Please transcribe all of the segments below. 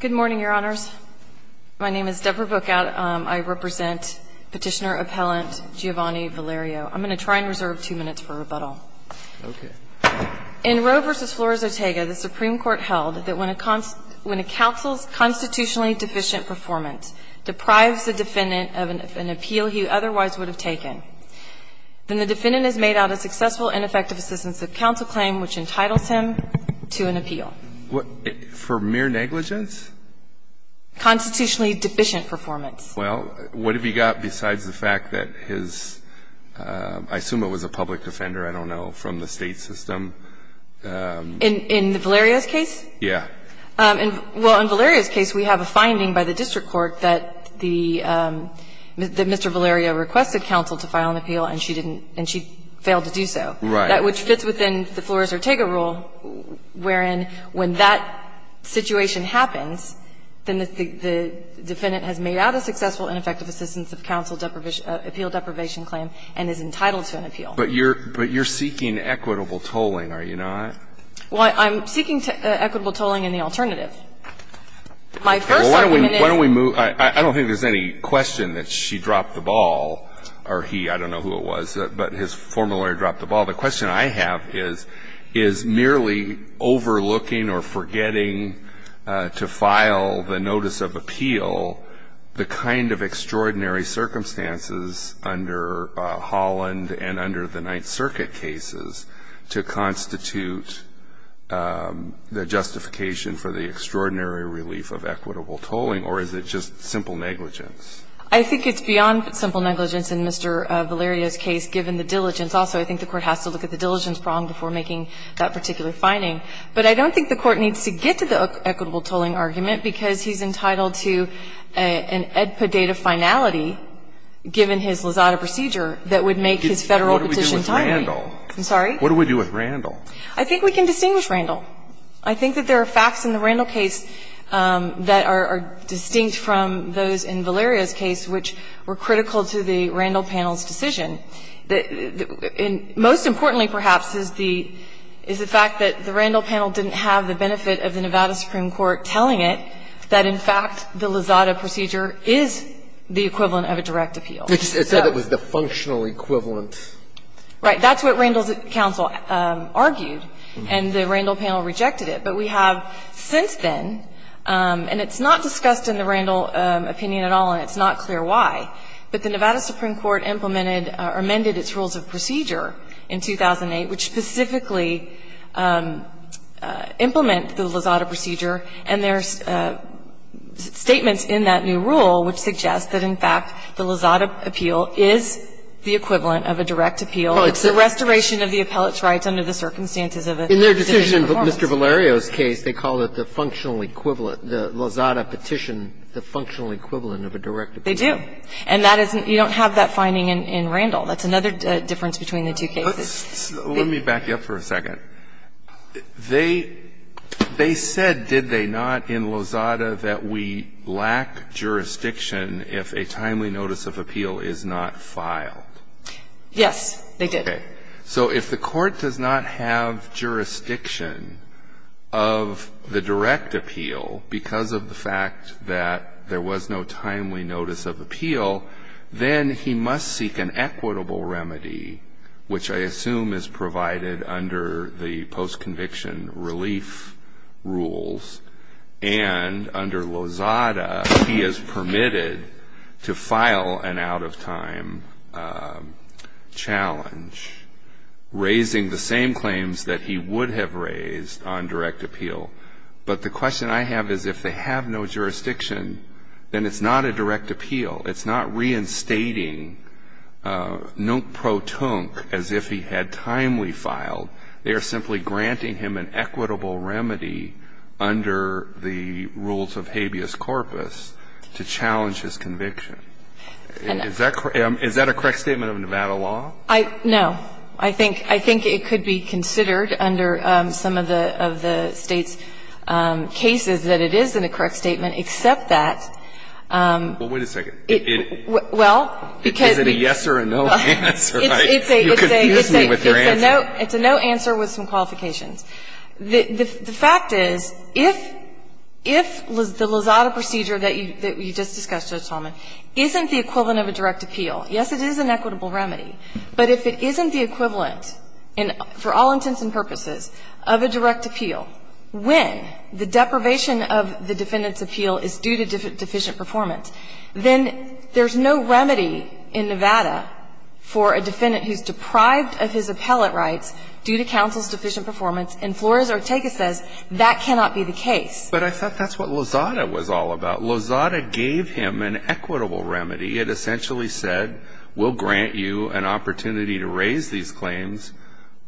Good morning, Your Honors. My name is Deborah Bookout. I represent Petitioner Appellant Giovanni Valerio. I'm going to try and reserve two minutes for rebuttal. Okay. In Roe v. Flores-Otega, the Supreme Court held that when a counsel's constitutionally deficient performance deprives the defendant of an appeal he otherwise would have taken, then the defendant has made out a successful and effective assistance of counsel claim which entitles him to an appeal. For mere negligence? Constitutionally deficient performance. Well, what have you got besides the fact that his, I assume it was a public offender, I don't know, from the state system? In Valerio's case? Yeah. Well, in Valerio's case we have a finding by the district court that Mr. Valerio requested counsel to file an appeal and she didn't, and she failed to do so. Right. Which fits within the Flores-Otega rule wherein when that situation happens, then the defendant has made out a successful and effective assistance of counsel appeal deprivation claim and is entitled to an appeal. But you're seeking equitable tolling, are you not? Well, I'm seeking equitable tolling in the alternative. My first argument is that the plaintiff has failed to do so. Well, why don't we move, I don't think there's any question that she dropped the ball, or he, I don't know who it was, but his former lawyer dropped the ball. The question I have is, is merely overlooking or forgetting to file the notice of appeal the kind of extraordinary circumstances under Holland and under the Ninth Circuit cases to constitute the justification for the extraordinary relief of equitable tolling, or is it just simple negligence? I think it's beyond simple negligence in Mr. Valerio's case, given the diligence. Also, I think the Court has to look at the diligence prong before making that particular finding. But I don't think the Court needs to get to the equitable tolling argument because he's entitled to an ed podata finality, given his Lozada procedure, that would make his Federal petition timely. I'm sorry? What do we do with Randall? I think we can distinguish Randall. I think that there are facts in the Randall case that are distinct from those in Valerio's case which were critical to the Randall panel's decision. Most importantly, perhaps, is the fact that the Randall panel didn't have the benefit of the Nevada Supreme Court telling it that, in fact, the Lozada procedure is the equivalent of a direct appeal. It said it was the functional equivalent. Right. That's what Randall's counsel argued, and the Randall panel rejected it. But we have since then, and it's not discussed in the Randall opinion at all and it's not clear why, but the Nevada Supreme Court implemented or amended its rules of procedure in 2008, which specifically implement the Lozada procedure, and there's statements in that new rule which suggest that, in fact, the Lozada appeal is the equivalent of a direct appeal. It's the restoration of the appellate's rights under the circumstances of a different performance. In their decision in Mr. Valerio's case, they called it the functional equivalent the Lozada petition, the functional equivalent of a direct appeal. They do. And that isn't you don't have that finding in Randall. That's another difference between the two cases. Let me back you up for a second. They said, did they not, in Lozada that we lack jurisdiction if a timely notice of appeal is not filed. Yes, they did. Okay. So if the court does not have jurisdiction of the direct appeal because of the fact that there was no timely notice of appeal, then he must seek an equitable remedy, which I assume is provided under the post-conviction relief rules, and under Lozada, he is permitted to file an out-of-time challenge, raising the same claims that he would have raised on direct appeal. But the question I have is if they have no jurisdiction, then it's not a direct appeal. It's not reinstating Noot Pro Tonk as if he had timely filed. They are simply granting him an equitable remedy under the rules of habeas corpus to challenge his conviction. Is that a correct statement of Nevada law? No. I think it could be considered under some of the State's cases that it is in a correct statement, except that it, well, because it's a, it's a, it's a, it's a, it's a no answer. It's a no answer with some qualifications. The fact is, if, if the Lozada procedure that you, that you just discussed, Judge Talman, isn't the equivalent of a direct appeal, yes, it is an equitable remedy, but if it isn't the equivalent in, for all intents and purposes, of a direct appeal, when the deprivation of the defendant's appeal is due to deficient performance, then there's no remedy in Nevada for a defendant who's deprived of his appellate rights due to counsel's deficient performance, and Flores-Ortega says that cannot be the case. But I thought that's what Lozada was all about. Lozada gave him an equitable remedy. It essentially said, we'll grant you an opportunity to raise these claims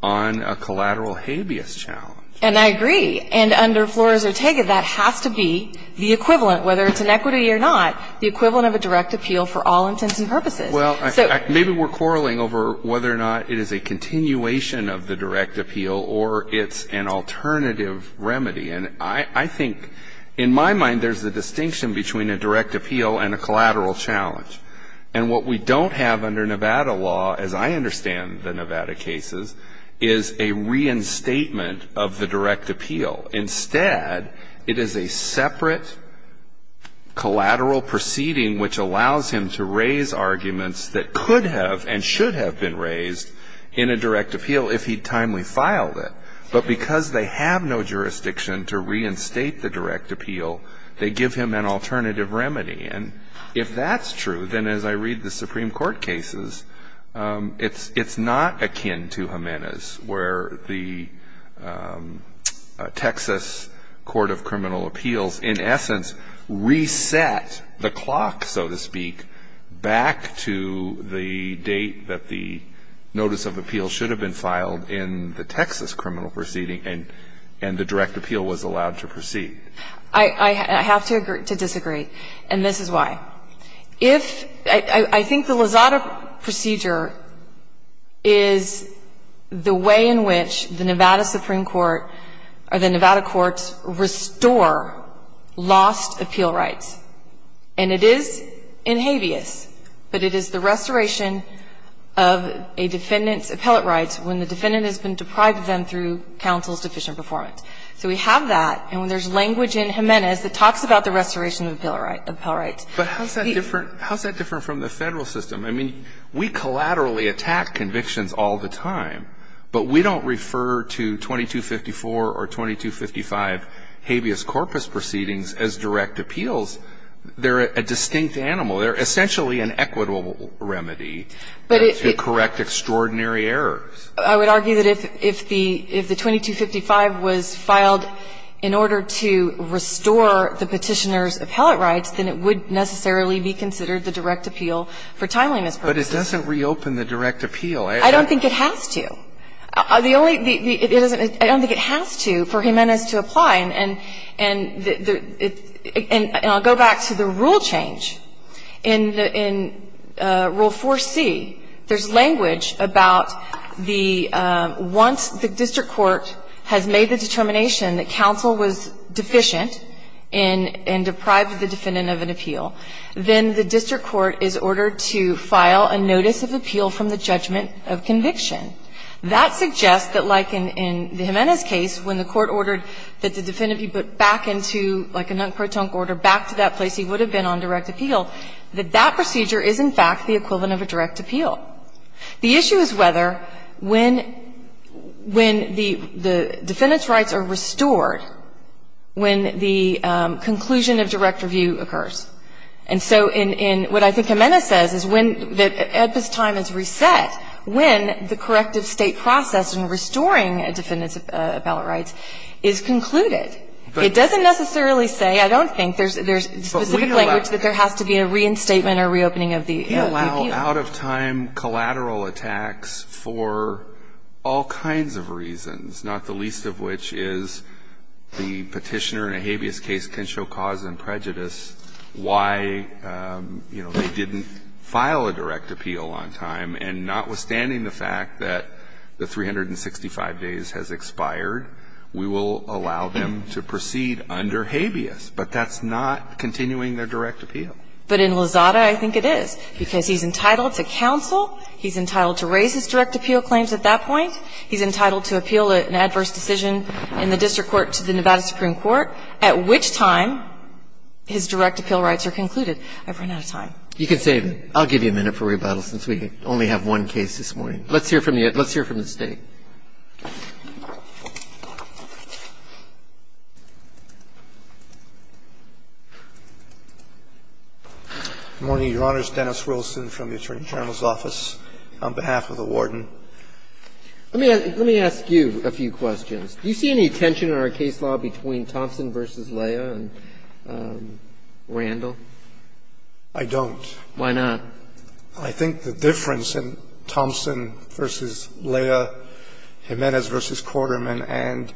on a collateral habeas challenge. And I agree. And under Flores-Ortega, that has to be the equivalent, whether it's an equity or not, the equivalent of a direct appeal for all intents and purposes. Well, maybe we're quarreling over whether or not it is a continuation of the direct appeal or it's an alternative remedy. And I think, in my mind, there's a distinction between a direct appeal and a collateral challenge. And what we don't have under Nevada law, as I understand the Nevada cases, is a reinstatement of the direct appeal. Instead, it is a separate collateral proceeding which allows him to raise arguments that could have and should have been raised in a direct appeal if he'd timely filed it. But because they have no jurisdiction to reinstate the direct appeal, they give him an alternative remedy. And if that's true, then as I read the Supreme Court cases, it's not akin to Jimenez where the Texas Court of Criminal Appeals, in essence, reset the clock, so to speak, back to the date that the notice of appeal should have been filed in the Texas criminal proceeding and the direct appeal was allowed to proceed. I have to disagree, and this is why. If the Lazada procedure is the way in which the Nevada Supreme Court or the Nevada courts restore lost appeal rights, and it is in habeas, but it is the restoration of a defendant's appellate rights when the defendant has been deprived of them through counsel's deficient performance. So we have that, and when there's language in Jimenez that talks about the restoration of appellate rights. But how is that different from the Federal system? I mean, we collaterally attack convictions all the time, but we don't refer to 2254 or 2255 habeas corpus proceedings as direct appeals. They're a distinct animal. They're essentially an equitable remedy to correct extraordinary errors. I would argue that if the 2255 was filed in order to restore the petitioner's appellate rights, then it would necessarily be considered the direct appeal for timeliness purposes. But it doesn't reopen the direct appeal. I don't think it has to. I don't think it has to for Jimenez to apply. And I'll go back to the rule change. In Rule 4c, there's language about the once the district court has made the determination that counsel was deficient in and deprived the defendant of an appeal, then the district court is ordered to file a notice of appeal from the judgment of conviction. That suggests that like in Jimenez's case, when the court ordered that the defendant be put back into like a non-crotonc order back to that place he would have been on direct appeal, that that procedure is in fact the equivalent of a direct appeal. The issue is whether when the defendant's rights are restored, when the conclusion of direct review occurs. And so in what I think Jimenez says is when, at this time, it's reset, when the corrective State process in restoring a defendant's appellate rights is concluded. It doesn't necessarily say, I don't think, there's specific language that there has to be a reinstatement or reopening of the appeal. Out-of-time collateral attacks for all kinds of reasons, not the least of which is the petitioner in a habeas case can show cause and prejudice why, you know, they didn't file a direct appeal on time and notwithstanding the fact that the 365 days has expired, we will allow them to proceed under habeas. But that's not continuing their direct appeal. But in Lozada, I think it is, because he's entitled to counsel, he's entitled to raise his direct appeal claims at that point, he's entitled to appeal an adverse decision in the district court to the Nevada Supreme Court, at which time his direct appeal rights are concluded. I've run out of time. You can save it. I'll give you a minute for rebuttal since we only have one case this morning. Let's hear from the State. Good morning, Your Honors. Dennis Wilson from the Attorney General's office on behalf of the Warden. Let me ask you a few questions. Do you see any tension in our case law between Thompson v. Leah and Randall? I don't. Why not? I think the difference in Thompson v. Leah, Jimenez v. Quarterman, and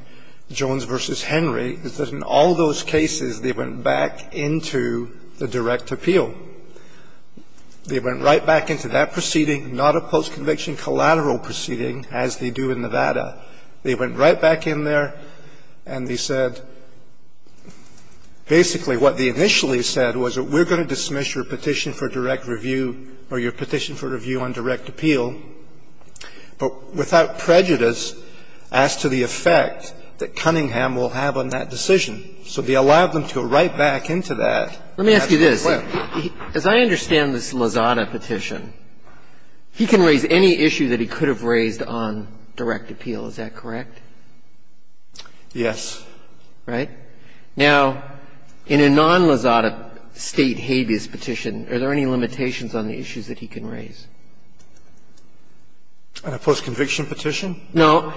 Jones v. Henry is that in all those cases, they went back into the direct appeal. They went right back into that proceeding, not a post-conviction collateral proceeding as they do in Nevada. They went right back in there and they said basically what they initially said was that we're going to dismiss your petition for direct review or your petition for review on direct appeal, but without prejudice as to the effect that Cunningham will have on that decision. So they allowed them to go right back into that. Let me ask you this. As I understand this Lozada petition, he can raise any issue that he could have raised on direct appeal, is that correct? Yes. Right? Now, in a non-Lozada State habeas petition, are there any limitations on the issues that he can raise? On a post-conviction petition? No.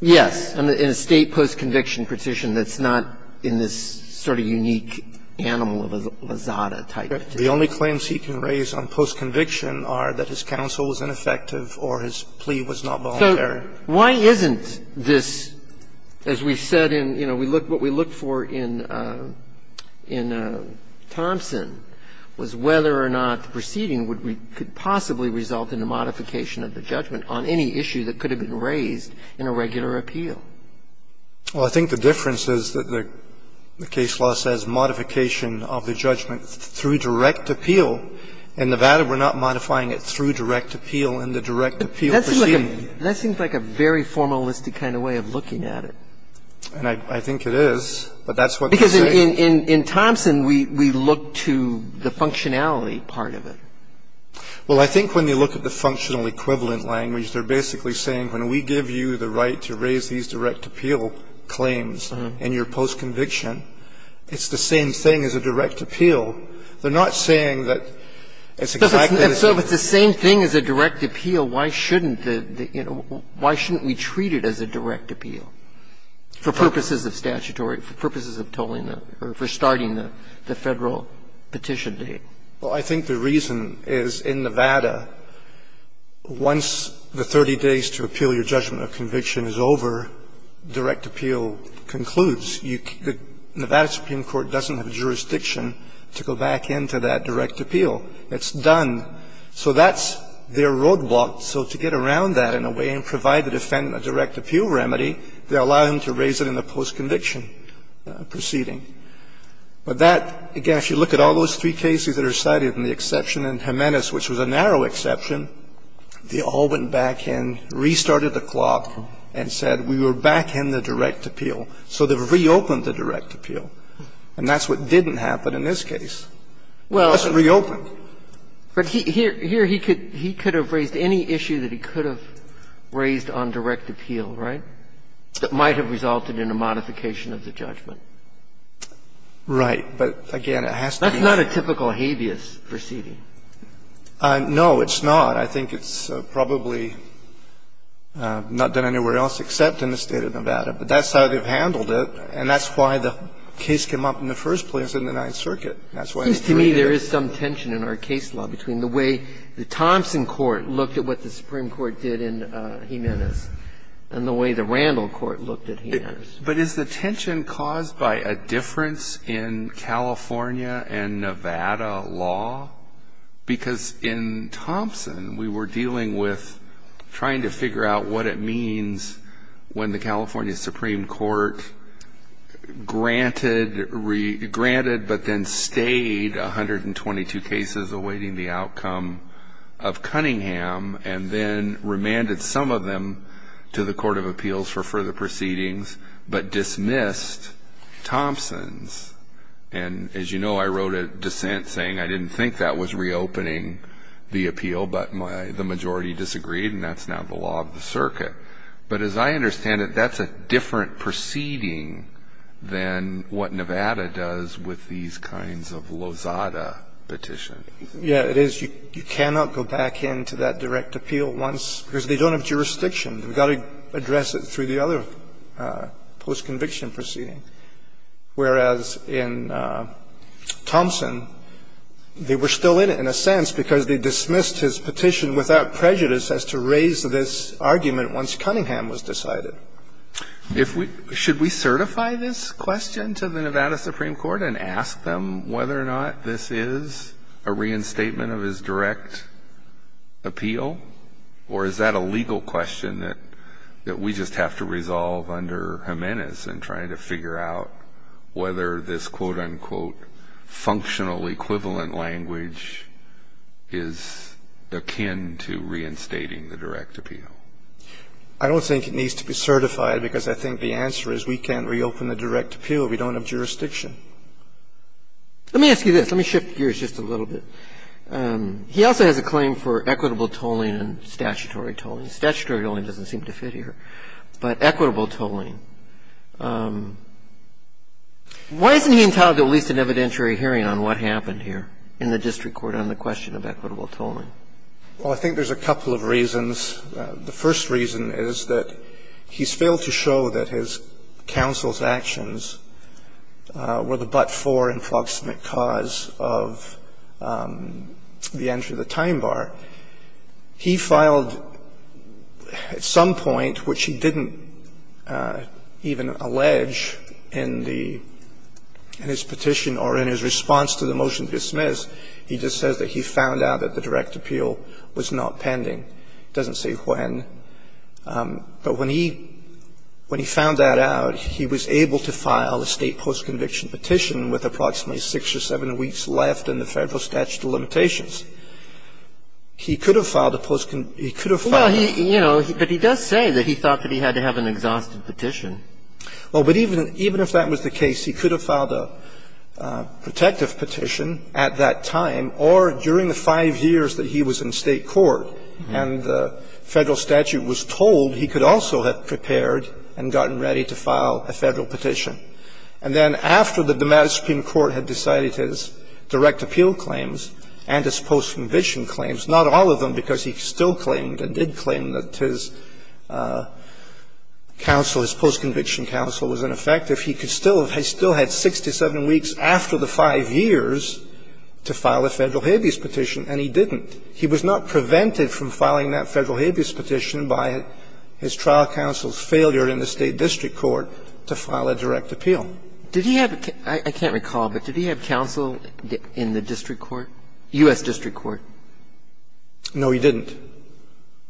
Yes. In a State post-conviction petition, that's not in this sort of unique animal of a Lozada type petition. The only claims he can raise on post-conviction are that his counsel was ineffective or his plea was not voluntary. Why isn't this, as we've said in, you know, we look what we looked for in Thompson was whether or not the proceeding would be, could possibly result in a modification of the judgment on any issue that could have been raised in a regular appeal. Well, I think the difference is that the case law says modification of the judgment through direct appeal. In Nevada, we're not modifying it through direct appeal in the direct appeal proceeding. That seems like a very formalistic kind of way of looking at it. And I think it is, but that's what they're saying. Because in Thompson, we look to the functionality part of it. Well, I think when they look at the functional equivalent language, they're basically saying when we give you the right to raise these direct appeal claims in your post-conviction, it's the same thing as a direct appeal. They're not saying that it's exactly the same. If it's the same thing as a direct appeal, why shouldn't the, you know, why shouldn't we treat it as a direct appeal for purposes of statutory, for purposes of tolling the, or for starting the Federal petition date? Well, I think the reason is in Nevada, once the 30 days to appeal your judgment of conviction is over, direct appeal concludes. The Nevada Supreme Court doesn't have jurisdiction to go back into that direct appeal. It's done. So that's their roadblock. So to get around that in a way and provide the defendant a direct appeal remedy, they allow him to raise it in the post-conviction proceeding. But that, again, if you look at all those three cases that are cited, and the exception in Jimenez, which was a narrow exception, they all went back in, restarted the clock, and said we were back in the direct appeal. So they've reopened the direct appeal. And that's what didn't happen in this case. It wasn't reopened. But here he could have raised any issue that he could have raised on direct appeal, right? It might have resulted in a modification of the judgment. Right. But, again, it has to be. That's not a typical habeas proceeding. No, it's not. I think it's probably not done anywhere else except in the State of Nevada. But that's how they've handled it, and that's why the case came up in the first place in the Ninth Circuit. That's why they threw it in the first place. It seems to me there is some tension in our case law between the way the Thompson court looked at what the Supreme Court did in Jimenez and the way the Randall court looked at Jimenez. But is the tension caused by a difference in California and Nevada law? Because in Thompson, we were dealing with trying to figure out what it means when the California Supreme Court granted but then stayed 122 cases awaiting the outcome of Cunningham and then remanded some of them to the Court of Appeals for further proceedings but dismissed Thompson's. And as you know, I wrote a dissent saying I didn't think that was reopening the appeal, but the majority disagreed, and that's now the law of the circuit. But as I understand it, that's a different proceeding than what Nevada does with these kinds of Lozada petitions. Yeah, it is. You cannot go back into that direct appeal once ñ because they don't have jurisdiction. They've got to address it through the other post-conviction proceeding. Whereas in Thompson, they were still in it in a sense because they dismissed his petition without prejudice as to raise this argument once Cunningham was decided. Should we certify this question to the Nevada Supreme Court and ask them whether or not this is a reinstatement of his direct appeal? Or is that a legal question that we just have to resolve under Jimenez in trying to figure out whether this, quote, unquote, functional equivalent language is akin to reinstating the direct appeal? I don't think it needs to be certified because I think the answer is we can't reopen the direct appeal. We don't have jurisdiction. Let me ask you this. Let me shift gears just a little bit. He also has a claim for equitable tolling and statutory tolling. Statutory tolling doesn't seem to fit here. But equitable tolling, why isn't he entitled to at least an evidentiary hearing on what happened here in the district court on the question of equitable tolling? Well, I think there's a couple of reasons. The first reason is that he's failed to show that his counsel's actions were the but-for and flogsmith cause of the entry of the time bar. He filed at some point, which he didn't even allege in the – in his petition or in his response to the motion to dismiss. He just says that he found out that the direct appeal was not pending. It doesn't say when. But when he found that out, he was able to file a State post-conviction petition with approximately six or seven weeks left in the Federal statute of limitations. And if that was the case, he could have filed a post-conviction – he could have filed a – Well, he – you know, but he does say that he thought that he had to have an exhausted petition. Well, but even if that was the case, he could have filed a protective petition at that time or during the five years that he was in State court and the Federal statute was told, he could also have prepared and gotten ready to file a Federal petition. And then after the Supreme Court had decided his direct appeal claims and his post- conviction claims, not all of them, because he still claimed and did claim that his counsel, his post-conviction counsel was ineffective, he could still – he still had six to seven weeks after the five years to file a Federal habeas petition, and he didn't. He was not prevented from filing that Federal habeas petition by his trial counsel's failure in the State district court to file a direct appeal. Did he have – I can't recall, but did he have counsel in the district court, U.S. district court? No, he didn't.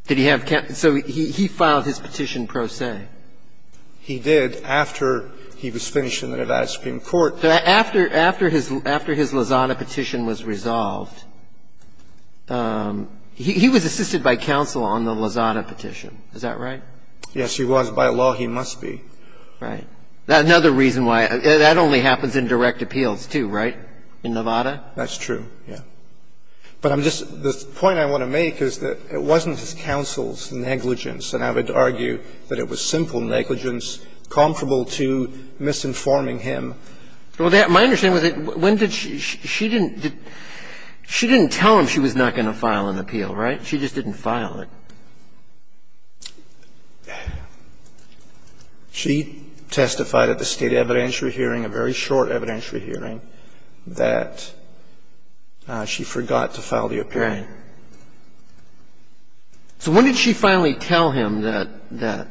Did he have – so he filed his petition pro se? He did after he was finished in the Nevada Supreme Court. So after his – after his Lozada petition was resolved, he was assisted by counsel on the Lozada petition, is that right? Yes, he was. By law, he must be. Right. Another reason why – that only happens in direct appeals, too, right, in Nevada? That's true, yes. But I'm just – the point I want to make is that it wasn't his counsel's negligence, and I would argue that it was simple negligence comparable to misinforming him. Well, my understanding is that when did she – she didn't – she didn't tell him she was not going to file an appeal, right? She just didn't file it. She testified at the State evidentiary hearing, a very short evidentiary hearing, that she forgot to file the appeal. Right. So when did she finally tell him that that?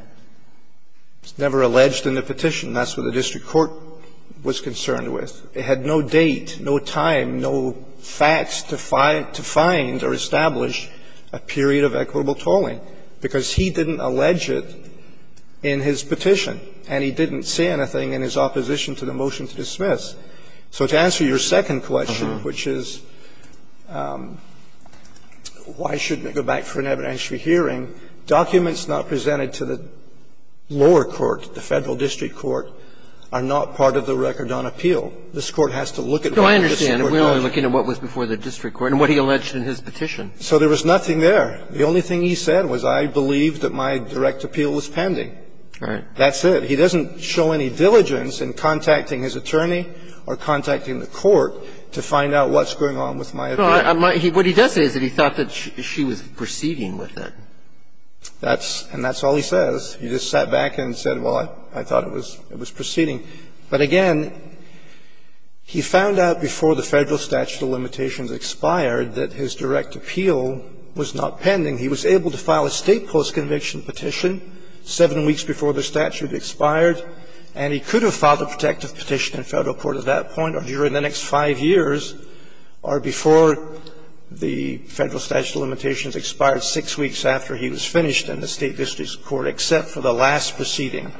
It's never alleged in the petition. That's what the district court was concerned with. It had no date, no time, no facts to find or establish a period of equitable tolling, because he didn't allege it in his petition, and he didn't say anything in his opposition to the motion to dismiss. So to answer your second question, which is why shouldn't I go back for an evidentiary hearing, documents not presented to the lower court, the Federal district court, are not part of the record on appeal. This Court has to look at what the district court does. No, I understand. We're only looking at what was before the district court and what he alleged in his petition. So there was nothing there. The only thing he said was, I believe that my direct appeal was pending. All right. That's it. He doesn't show any diligence in contacting his attorney or contacting the court to find out what's going on with my appeal. But he does say that he thought that she was proceeding with it. That's all he says. He just sat back and said, well, I thought it was proceeding. But again, he found out before the Federal statute of limitations expired that his direct appeal was not pending. He was able to file a State postconviction petition seven weeks before the statute expired, and he could have filed a protective petition in Federal court at that point or during the next five years or before the Federal statute of limitations expired six weeks after he was finished in the State district's court, except for the last proceeding,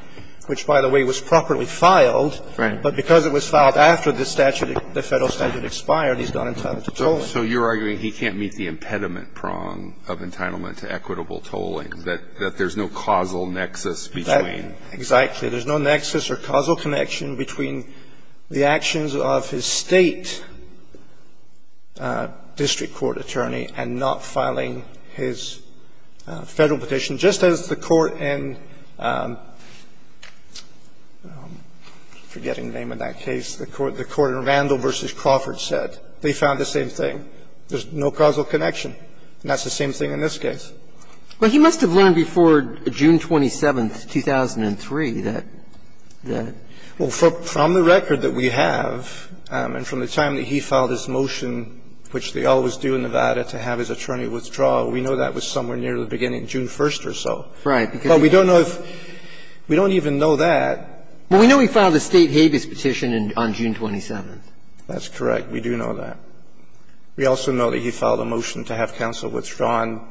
which, by the way, was properly filed. But because it was filed after the statute, the Federal statute expired, he's not entitled to tolling. So you're arguing he can't meet the impediment prong of entitlement to equitable tolling, that there's no causal nexus between. Exactly. There's no nexus or causal connection between the actions of his State district court attorney and not filing his Federal petition, just as the Court in the forgetting name of that case, the Court in Randall v. Crawford said. They found the same thing. There's no causal connection. And that's the same thing in this case. Well, he must have learned before June 27, 2003, that the ---- Well, from the record that we have and from the time that he filed his motion, which they always do in Nevada, to have his attorney withdraw, we know that was somewhere near the beginning, June 1st or so. Right. But we don't know if we don't even know that. Well, we know he filed a State habeas petition on June 27th. That's correct. We do know that. We also know that he filed a motion to have counsel withdrawn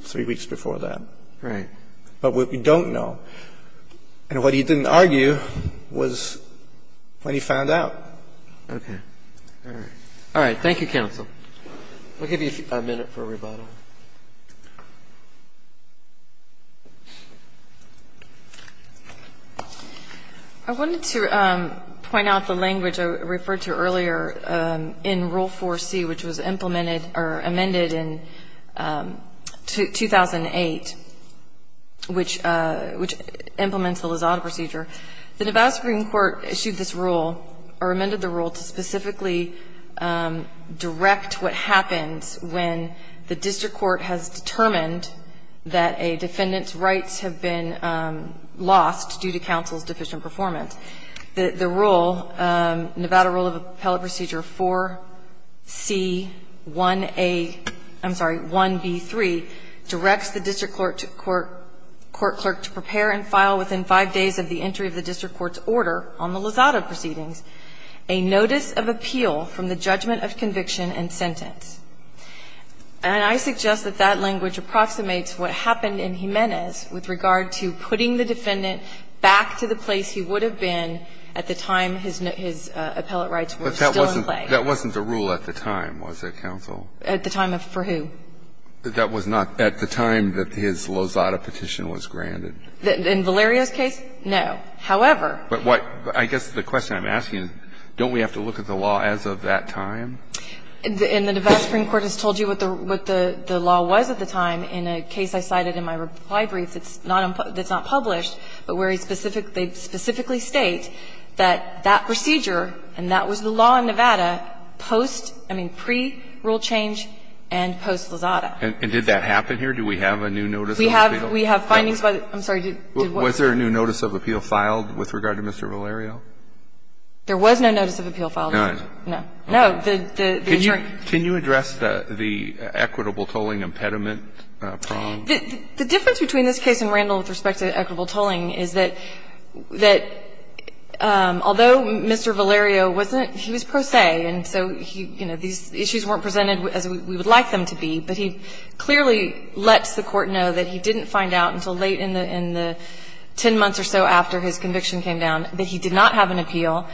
3 weeks before that. Right. But what we don't know, and what he didn't argue, was when he found out. Okay. All right. Thank you, counsel. We'll give you a minute for a rebuttal. I wanted to point out the language I referred to earlier. In Rule 4C, which was implemented or amended in 2008, which implements the Lozada procedure, the Nevada Supreme Court issued this rule or amended the rule to specifically direct what happens when the district court has determined that a defendant's rights have been lost due to counsel's deficient performance. The rule, Nevada Rule of Appellate Procedure 4C1A — I'm sorry, 1B3, directs the district court to prepare and file within 5 days of the entry of the district court's order on the Lozada proceedings a notice of appeal from the judgment of conviction and sentence. And I suggest that that language approximates what happened in Jimenez with regard to putting the defendant back to the place he would have been at the time his appellate rights were still in play. But that wasn't the rule at the time, was it, counsel? At the time of for who? That was not at the time that his Lozada petition was granted. In Valerio's case, no. However. But what — I guess the question I'm asking, don't we have to look at the law as of that time? In the Nevada Supreme Court has told you what the law was at the time. In a case I cited in my reply brief that's not published, but where he specifically states that that procedure, and that was the law in Nevada, post — I mean, pre-rule change and post-Lozada. And did that happen here? Do we have a new notice of appeal? We have findings by the — I'm sorry, did what? Was there a new notice of appeal filed with regard to Mr. Valerio? There was no notice of appeal filed. None. No. No. The attorney — Can you address the equitable tolling impediment prong? The difference between this case and Randall with respect to equitable tolling is that — that although Mr. Valerio wasn't — he was pro se, and so he — you know, these issues weren't presented as we would like them to be, but he clearly lets the Court know that he didn't find out until late in the — in the 10 months or so after his conviction came down that he did not have an appeal.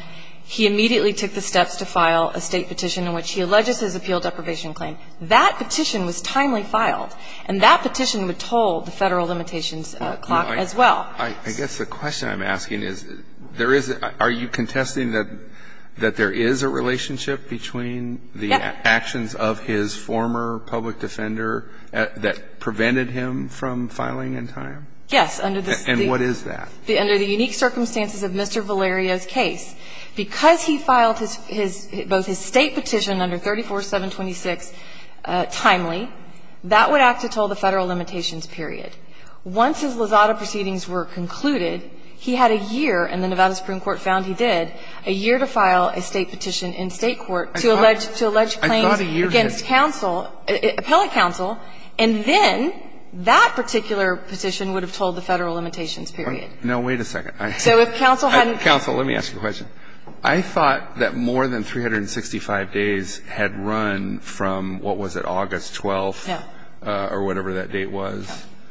He immediately took the steps to file a State petition in which he alleges his appeal deprivation claim. That petition was timely filed. And that petition would toll the Federal limitations clock as well. I guess the question I'm asking is, there is — are you contesting that there is a relationship between the actions of his former public defender that prevented him from filing in time? Yes, under the State — And what is that? Under the unique circumstances of Mr. Valerio's case, because he filed his — his — both his State petition under 34-726 timely, that would act to toll the Federal limitations period. Once his Lozada proceedings were concluded, he had a year, and the Nevada Supreme Court found he did, a year to file a State petition in State court to allege — I thought a year did. — to allege claims against counsel — appellate counsel, and then that particular petition would have tolled the Federal limitations period. No, wait a second. So if counsel hadn't — Counsel, let me ask you a question. I thought that more than 365 days had run from, what was it, August 12th or whatever that date was.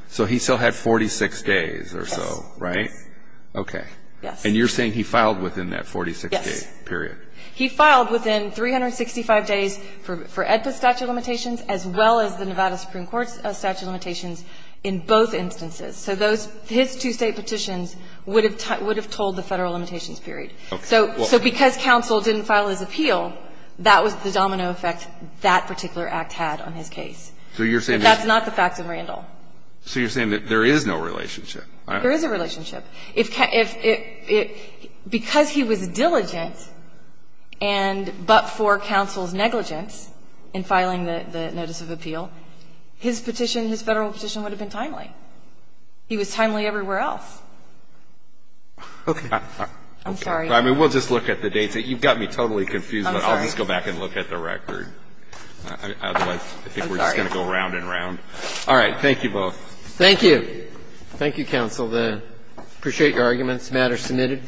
So he still had 46 days or so, right? Yes. Okay. Yes. And you're saying he filed within that 46-day period? He filed within 365 days for EDPA statute limitations as well as the Nevada Supreme Court statute limitations in both instances. So those — his two State petitions would have tolled the Federal limitations period. Okay. So because counsel didn't file his appeal, that was the domino effect that particular act had on his case. So you're saying that's not the fact of Randall? So you're saying that there is no relationship, right? There is a relationship. If — because he was diligent and — but for counsel's negligence in filing the notice of appeal, his petition, his Federal petition, would have been timely. He was timely everywhere else. Okay. I'm sorry. I mean, we'll just look at the dates. You've got me totally confused, but I'll just go back and look at the record. Otherwise, I think we're just going to go round and round. All right. Thank you both. Thank you. Thank you, counsel. I appreciate your arguments. The matter is submitted.